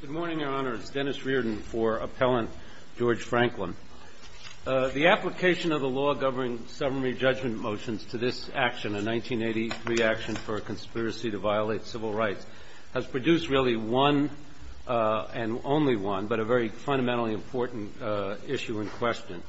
Good morning, Your Honor. It's Dennis Reardon for Appellant George Franklin. The application of the law governing Sovereign Rejudgment Motions to this action, a 1983 action for a conspiracy to violate civil rights, has produced really one, and only one, but a very fundamentally important issue in question.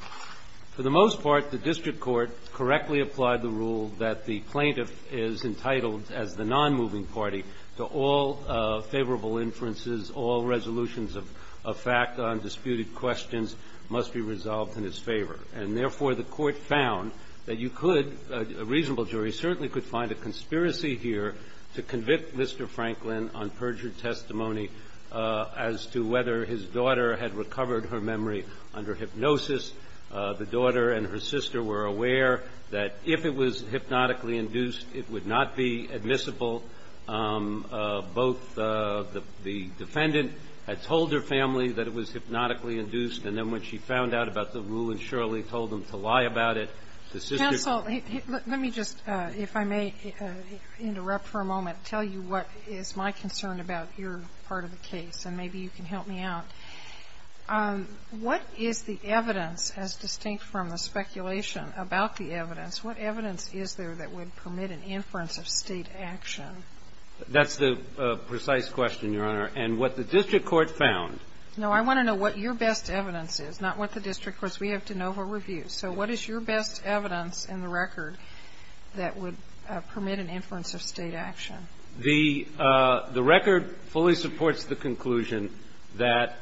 For the most part, the district court correctly applied the rule that the plaintiff is entitled, as the nonmoving party, to all favorable inferences, all resolutions of fact on disputed questions must be resolved in his favor. And therefore, the Court found that you could, a reasonable jury, certainly could find a conspiracy here to convict Mr. Franklin on perjured testimony as to whether his daughter had recovered her memory under hypnosis. The daughter and her sister were aware that if it was hypnotically induced, it would not be admissible. Both the defendant had told her family that it was hypnotically induced, and then when she found out about the rule and surely told them to lie about it, the sister Counsel, let me just, if I may interrupt for a moment, tell you what is my concern about your part of the case, and maybe you can help me out. What is the evidence, as distinct from the speculation about the evidence, what evidence is there that would permit an inference of State action? That's the precise question, Your Honor. And what the district court found No. I want to know what your best evidence is, not what the district court's. We have de novo review. So what is your best evidence in the record that would permit an inference of State action? The record fully supports the conclusion that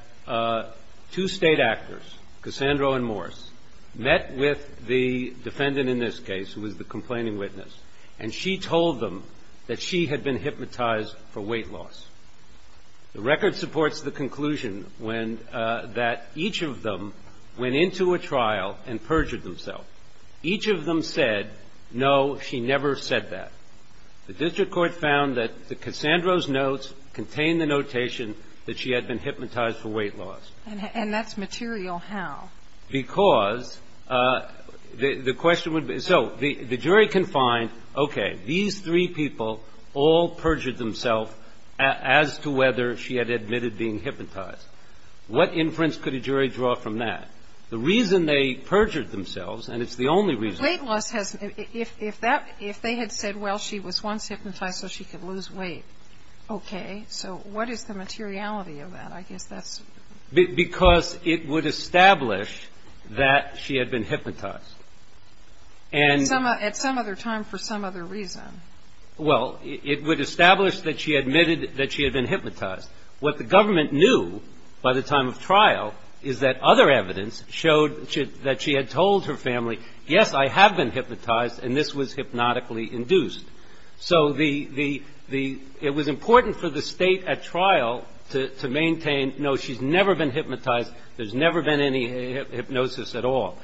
two State actors, Cassandro and Morris, met with the defendant in this case, who was the complaining witness, and she told them that she had been hypnotized for weight loss. The record supports the conclusion that each of them went into a trial and perjured themselves. Each of them said, no, she never said that. The district court found that Cassandro's notes contained the notation that she had been hypnotized for weight loss. And that's material how? Because the question would be so. The jury can find, okay, these three people all perjured themselves as to whether she had admitted being hypnotized. What inference could a jury draw from that? The reason they perjured themselves, and it's the only reason. Weight loss has, if that, if they had said, well, she was once hypnotized so she could lose weight, okay. So what is the materiality of that? Because it would establish that she had been hypnotized. At some other time for some other reason. Well, it would establish that she admitted that she had been hypnotized. What the government knew by the time of trial is that other evidence showed that she had told her family, yes, I have been hypnotized and this was hypnotically induced. So it was important for the state at trial to maintain, no, she's never been hypnotized. There's never been any hypnosis at all.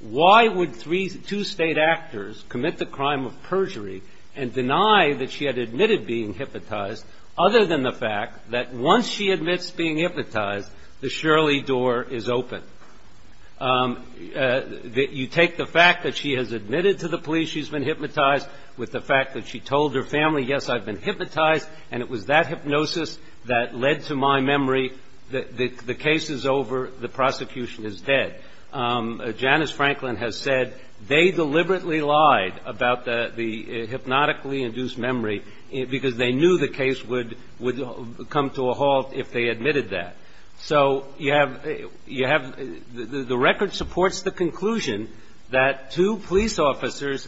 Why would two state actors commit the crime of perjury and deny that she had admitted being hypnotized, other than the fact that once she admits being hypnotized, the Shirley door is open? You take the fact that she has admitted to the police she's been hypnotized with the fact that she told her family, yes, I've been hypnotized, and it was that hypnosis that led to my memory that the case is over, the prosecution is dead. Janice Franklin has said they deliberately lied about the hypnotically induced memory because they knew the case would come to a halt if they admitted that. So you have the record supports the conclusion that two police officers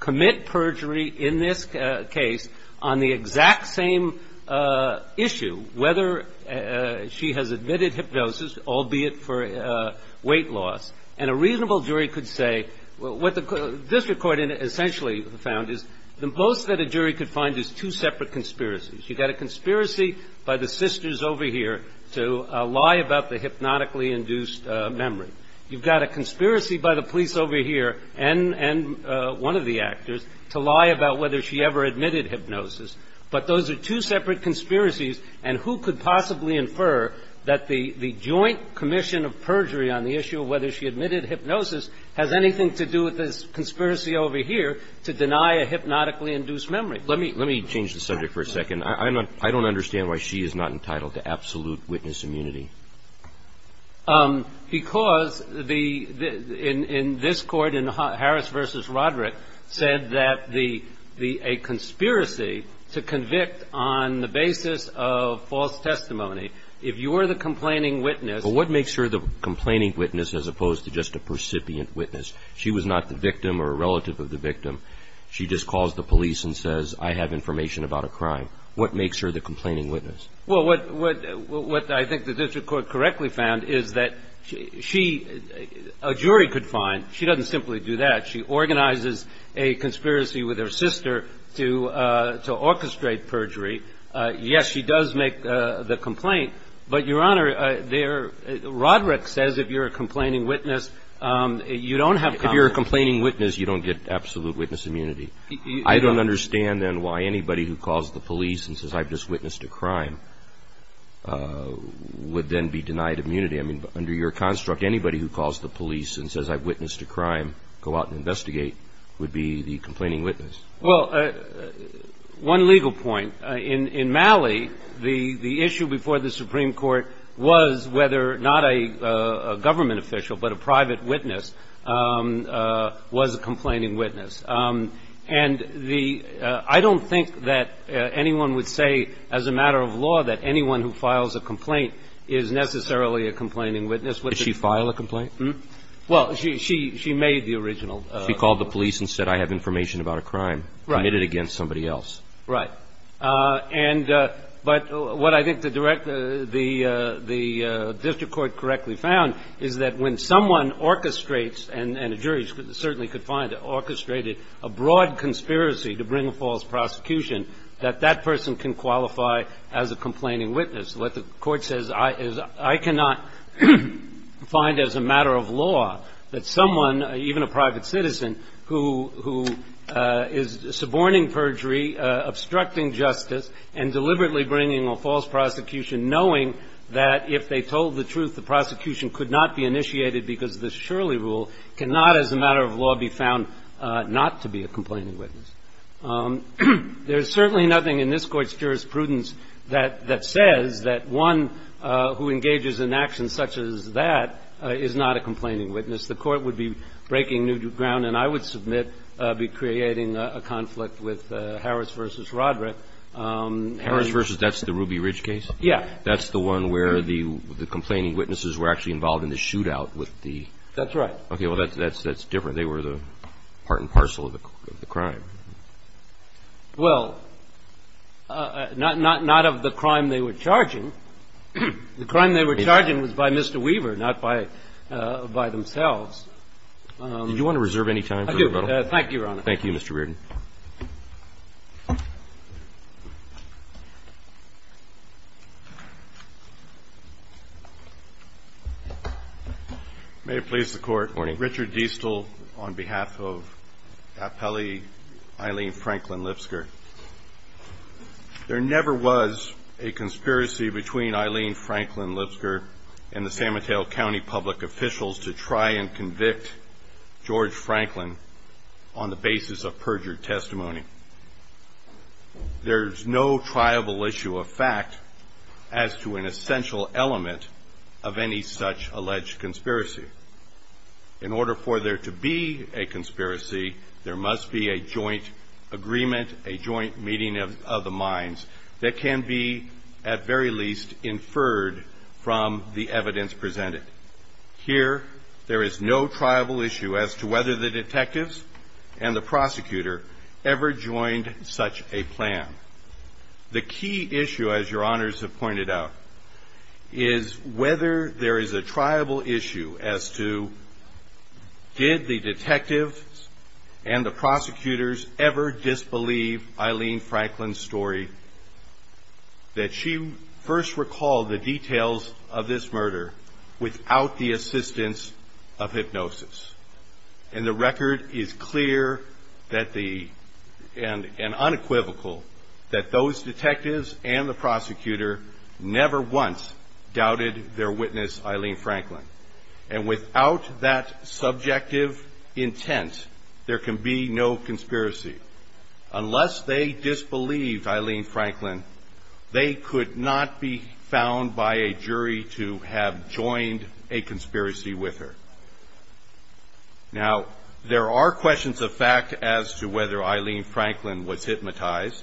commit perjury in this case on the exact same issue, whether she has admitted hypnosis, albeit for weight loss. And a reasonable jury could say what the district court essentially found is the most that a jury could find is two separate conspiracies. You've got a conspiracy by the sisters over here to lie about the hypnotically induced memory. You've got a conspiracy by the police over here and one of the actors to lie about whether she ever admitted hypnosis. But those are two separate conspiracies. And who could possibly infer that the joint commission of perjury on the issue of whether she admitted hypnosis has anything to do with this conspiracy over here to deny a hypnotically induced memory? Let me change the subject for a second. I don't understand why she is not entitled to absolute witness immunity. Because in this court, in Harris v. Roderick, said that a conspiracy to convict on the basis of false testimony, if you are the complaining witness... But what makes her the complaining witness as opposed to just a percipient witness? She just calls the police and says, I have information about a crime. What makes her the complaining witness? Well, what I think the district court correctly found is that she, a jury could find. She doesn't simply do that. She organizes a conspiracy with her sister to orchestrate perjury. Yes, she does make the complaint. But, Your Honor, Roderick says if you're a complaining witness, you don't have... If you're a complaining witness, you don't get absolute witness immunity. I don't understand, then, why anybody who calls the police and says, I've just witnessed a crime would then be denied immunity. I mean, under your construct, anybody who calls the police and says, I've witnessed a crime, go out and investigate, would be the complaining witness. Well, one legal point. In Malley, the issue before the Supreme Court was whether not a government official but a private witness was a complaining witness. And I don't think that anyone would say as a matter of law that anyone who files a complaint is necessarily a complaining witness. Did she file a complaint? Well, she made the original complaint. She called the police and said, I have information about a crime committed against somebody else. Right. But what I think the district court correctly found is that when someone orchestrates and a jury certainly could find it, orchestrated a broad conspiracy to bring a false prosecution, that that person can qualify as a complaining witness. What the court says is I cannot find as a matter of law that someone, even a private citizen, who is suborning perjury, obstructing justice, and deliberately bringing a false prosecution, knowing that if they told the truth, the prosecution could not be initiated because this Shirley rule cannot as a matter of law be found not to be a complaining witness. There is certainly nothing in this Court's jurisprudence that says that one who engages in actions such as that is not a complaining witness. The court would be breaking new ground, and I would submit be creating a conflict with Harris v. Rodrick. Harris v. that's the Ruby Ridge case? Yeah. That's the one where the complaining witnesses were actually involved in the shootout with the? That's right. Okay. Well, that's different. They were the part and parcel of the crime. Well, not of the crime they were charging. The crime they were charging was by Mr. Weaver, not by themselves. Did you want to reserve any time for rebuttal? Thank you, Your Honor. Thank you, Mr. Reardon. May it please the Court. Morning. Mr. Diestel, on behalf of Appellee Eileen Franklin Lipsker, there never was a conspiracy between Eileen Franklin Lipsker and the San Mateo County public officials to try and convict George Franklin on the basis of perjured testimony. There's no triable issue of fact as to an essential element of any such alleged conspiracy. In order for there to be a conspiracy, there must be a joint agreement, a joint meeting of the minds, that can be at very least inferred from the evidence presented. Here, there is no triable issue as to whether the detectives and the prosecutor ever joined such a plan. The key issue, as Your Honors have pointed out, is whether there is a triable issue as to did the detectives and the prosecutors ever disbelieve Eileen Franklin's story that she first recalled the details of this murder without the assistance of hypnosis. And the record is clear and unequivocal that those detectives and the prosecutor never once doubted their witness Eileen Franklin. And without that subjective intent, there can be no conspiracy. Unless they disbelieved Eileen Franklin, they could not be found by a jury to have joined a conspiracy with her. Now, there are questions of fact as to whether Eileen Franklin was hypnotized.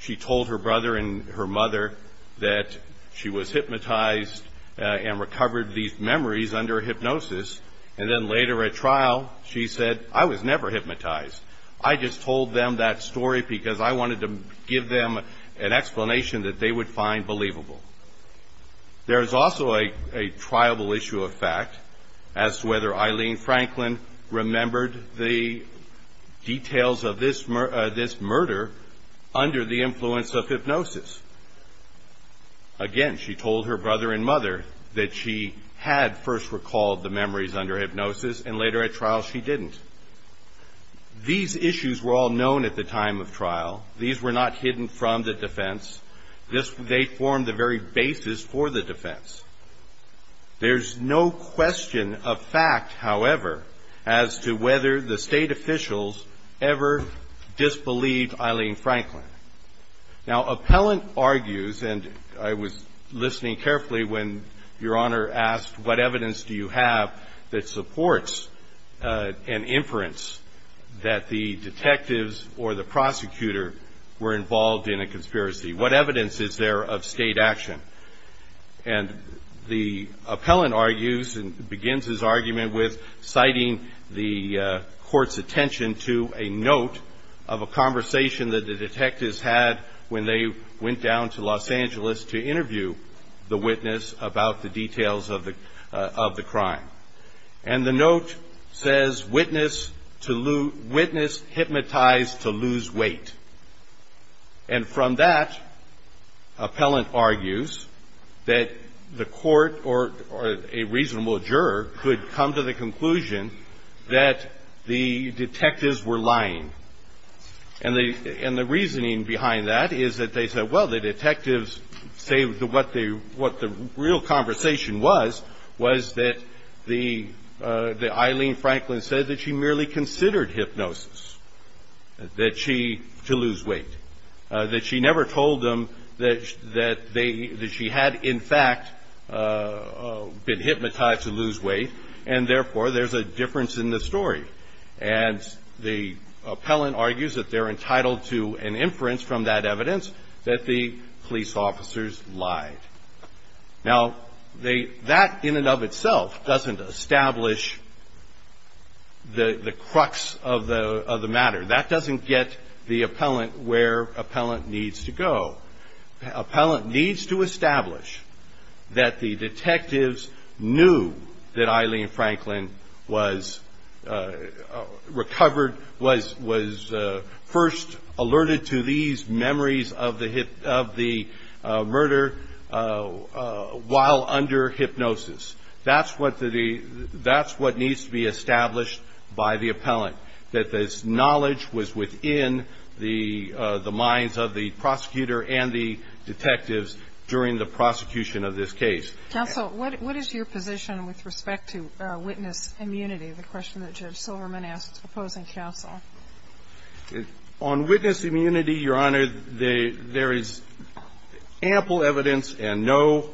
She told her brother and her mother that she was hypnotized and recovered these memories under hypnosis, and then later at trial, she said, I was never hypnotized. I just told them that story because I wanted to give them an explanation that they would find believable. There is also a triable issue of fact as to whether Eileen Franklin remembered the details of this murder under the influence of hypnosis. Again, she told her brother and mother that she had first recalled the memories under hypnosis, and later at trial, she didn't. These issues were all known at the time of trial. These were not hidden from the defense. They formed the very basis for the defense. There's no question of fact, however, as to whether the state officials ever disbelieved Eileen Franklin. Now, appellant argues, and I was listening carefully when Your Honor asked, what evidence do you have that supports an inference that the detectives or the prosecutor were involved in a conspiracy? What evidence is there of state action? And the appellant argues and begins his argument with citing the court's attention to a note of a conversation that the detectives had when they went down to Los Angeles to interview the witness about the details of the crime. And the note says, witness hypnotized to lose weight. And from that, appellant argues that the court or a reasonable juror could come to the conclusion that the detectives were lying. And the reasoning behind that is that they said, well, the detectives say what the real conversation was, was that Eileen Franklin said that she merely considered hypnosis to lose weight. That she never told them that she had, in fact, been hypnotized to lose weight, and therefore there's a difference in the story. And the appellant argues that they're entitled to an inference from that evidence that the police officers lied. Now, that in and of itself doesn't establish the crux of the matter. That doesn't get the appellant where appellant needs to go. Appellant needs to establish that the detectives knew that Eileen Franklin was recovered, was first alerted to these memories of the murder while under hypnosis. That's what needs to be established by the appellant. Now, the question is whether or not there is evidence that suggests that this knowledge was within the minds of the prosecutor and the detectives during the prosecution of this case. Counsel, what is your position with respect to witness immunity, the question that Judge Silverman asked opposing counsel? On witness immunity, Your Honor, there is ample evidence and no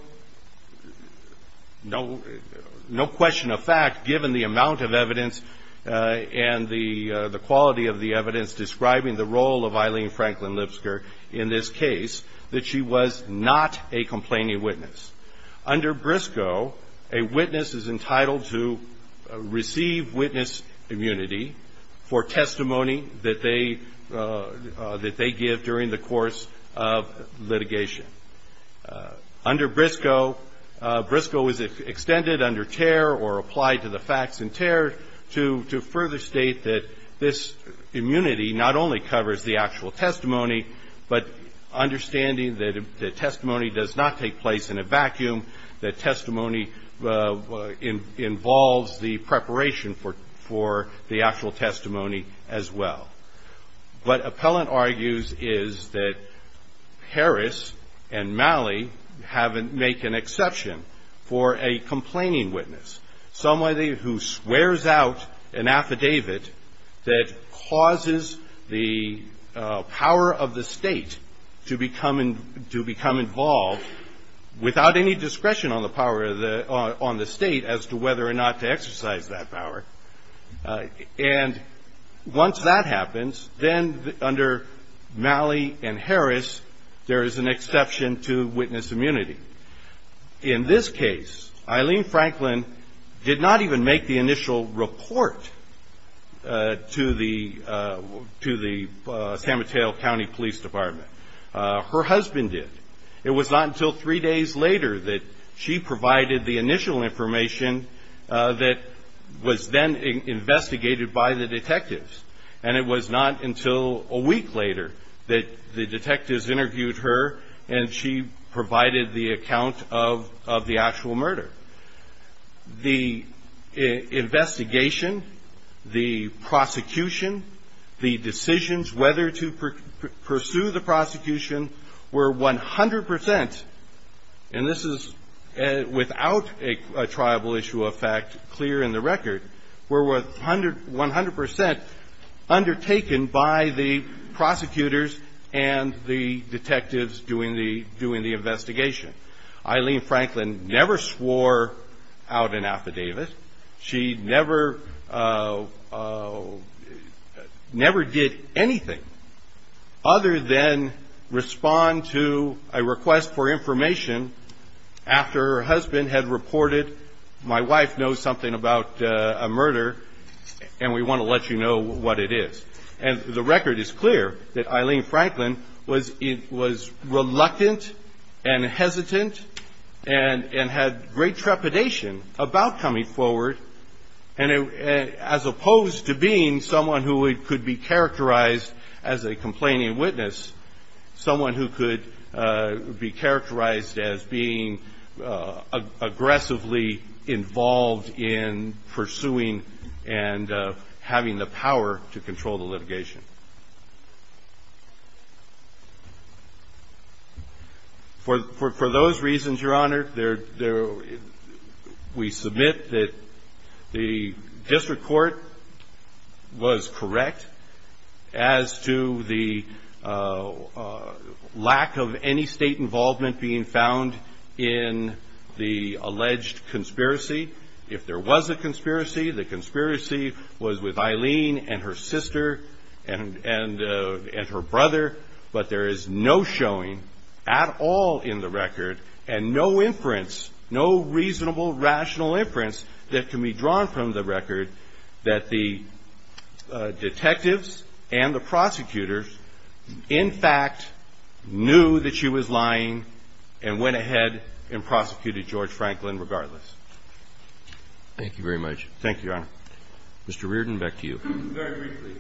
question of fact, given the amount of evidence and the quality of the evidence describing the role of Eileen Franklin Lipsker in this case, that she was not a complaining witness. Under Briscoe, a witness is entitled to receive witness immunity for testimony that they give during the course of litigation. Under Briscoe, Briscoe is extended under tear or applied to the facts in tear to further state that this immunity not only covers the actual testimony, but understanding that the testimony does not take place in a vacuum, that testimony involves the preparation for the actual testimony as well. What appellant argues is that Harris and Malley make an exception for a complaining witness, somebody who swears out an affidavit that causes the power of the state to become involved without any discretion on the state as to whether or not to exercise that power. And once that happens, then under Malley and Harris, there is an exception to witness immunity. In this case, Eileen Franklin did not even make the initial report to the San Mateo County Police Department. Her husband did. It was not until three days later that she provided the initial information that was then investigated by the detectives. And it was not until a week later that the detectives interviewed her and she provided the account of the actual murder. The investigation, the prosecution, the decisions whether to pursue the prosecution were 100 percent, and this is without a tribal issue of fact clear in the record, were 100 percent undertaken by the prosecutors and the detectives doing the investigation. Eileen Franklin never swore out an affidavit. She never did anything other than respond to a request for information after her husband had reported, my wife knows something about a murder and we want to let you know what it is. And the record is clear that Eileen Franklin was reluctant and hesitant and had great trepidation about coming forward as opposed to being someone who could be characterized as a complaining witness, someone who could be characterized as being aggressively involved in pursuing and having the power to control the litigation. For those reasons, Your Honor, we submit that the district court was correct as to the lack of any state involvement being found in the alleged conspiracy. If there was a conspiracy, the conspiracy was with Eileen and her sister and her brother, but there is no showing at all in the record and no inference, no reasonable rational inference that can be drawn from the record that the detectives and the prosecutors, in fact, knew that she was lying and went ahead and prosecuted George Franklin regardless. Thank you very much. Thank you, Your Honor. Mr. Reardon, back to you. Very briefly.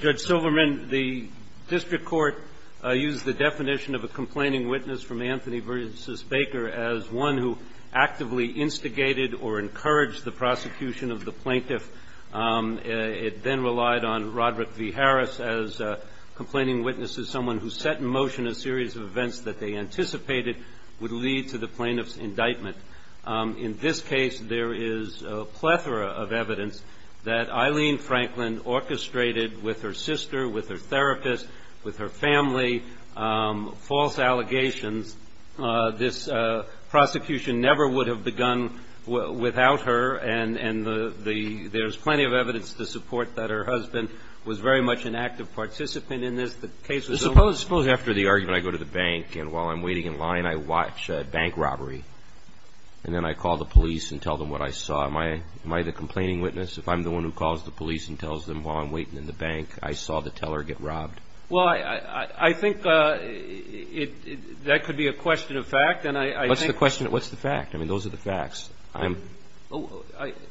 Judge Silverman, the district court used the definition of a complaining witness from Anthony Versus Baker as one who actively instigated or encouraged the prosecution of the plaintiff. It then relied on Roderick V. Harris as a complaining witness as someone who set in motion a series of events that they anticipated would lead to the plaintiff's indictment. In this case, there is a plethora of evidence that Eileen Franklin orchestrated with her sister, with her therapist, with her family, false allegations. This prosecution never would have begun without her, and there is plenty of evidence to support that her husband was very much an active participant in this. Suppose after the argument I go to the bank and while I'm waiting in line I watch a bank robbery and then I call the police and tell them what I saw. Am I the complaining witness if I'm the one who calls the police and tells them while I'm waiting in the bank I saw the teller get robbed? Well, I think that could be a question of fact and I think What's the question? What's the fact? I mean, those are the facts.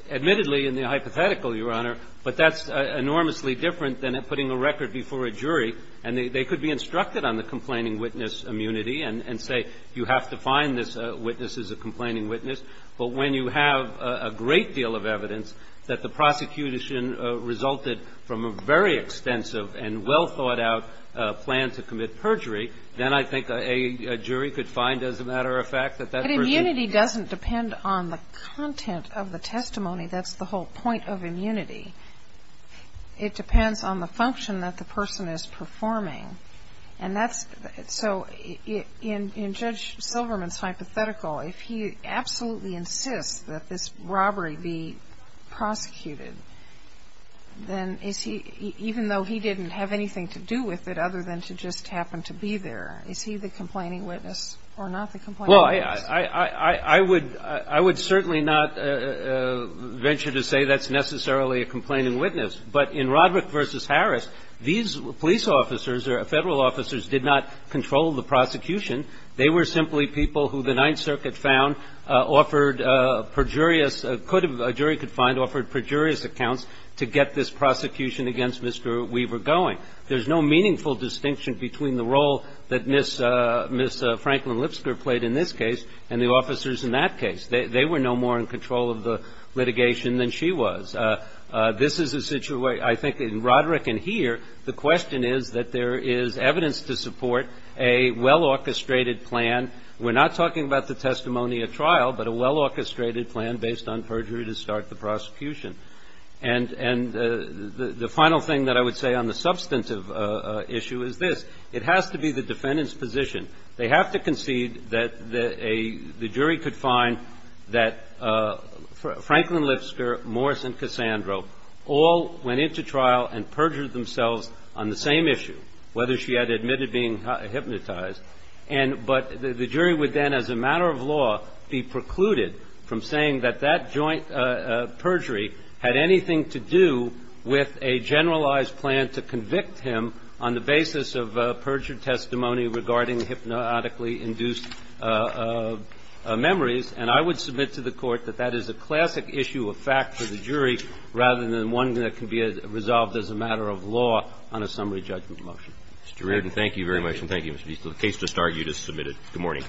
Admittedly, in the hypothetical, Your Honor, but that's enormously different than putting a record before a jury and they could be instructed on the complaining witness immunity and say you have to find this witness as a complaining witness, but when you have a great deal of evidence that the prosecution resulted from a very extensive and well-thought-out plan to commit perjury, then I think a jury could find as a matter of fact that that person But immunity doesn't depend on the content of the testimony. That's the whole point of immunity. It depends on the function that the person is performing. And that's so in Judge Silverman's hypothetical, if he absolutely insists that this robbery be prosecuted, then is he, even though he didn't have anything to do with it other than to just happen to be there, is he the complaining witness or not the complaining witness? Well, I would certainly not venture to say that's necessarily a complaining witness. But in Roderick v. Harris, these police officers or federal officers did not control the prosecution. They were simply people who the Ninth Circuit found offered perjurious could have, a jury could find offered perjurious accounts to get this prosecution against Mr. Weaver going. There's no meaningful distinction between the role that Ms. Franklin Lipsker played in this case and the officers in that case. They were no more in control of the litigation than she was. This is a situation, I think in Roderick and here, the question is that there is evidence to support a well-orchestrated plan. We're not talking about the testimony at trial, but a well-orchestrated plan based on perjury to start the prosecution. And the final thing that I would say on the substantive issue is this. It has to be the defendant's position. They have to concede that the jury could find that Franklin Lipsker, Morris, and Cassandro all went into trial and perjured themselves on the same issue, whether she had admitted being hypnotized. And but the jury would then, as a matter of law, be precluded from saying that that joint perjury had anything to do with a generalized plan to convict him on the basis of perjured testimony regarding hypnotically induced memories. And I would submit to the Court that that is a classic issue of fact for the jury rather than one that can be resolved as a matter of law on a summary judgment Mr. Reardon, thank you very much. And thank you, Mr. Beasley. The case just argued is submitted. Good morning.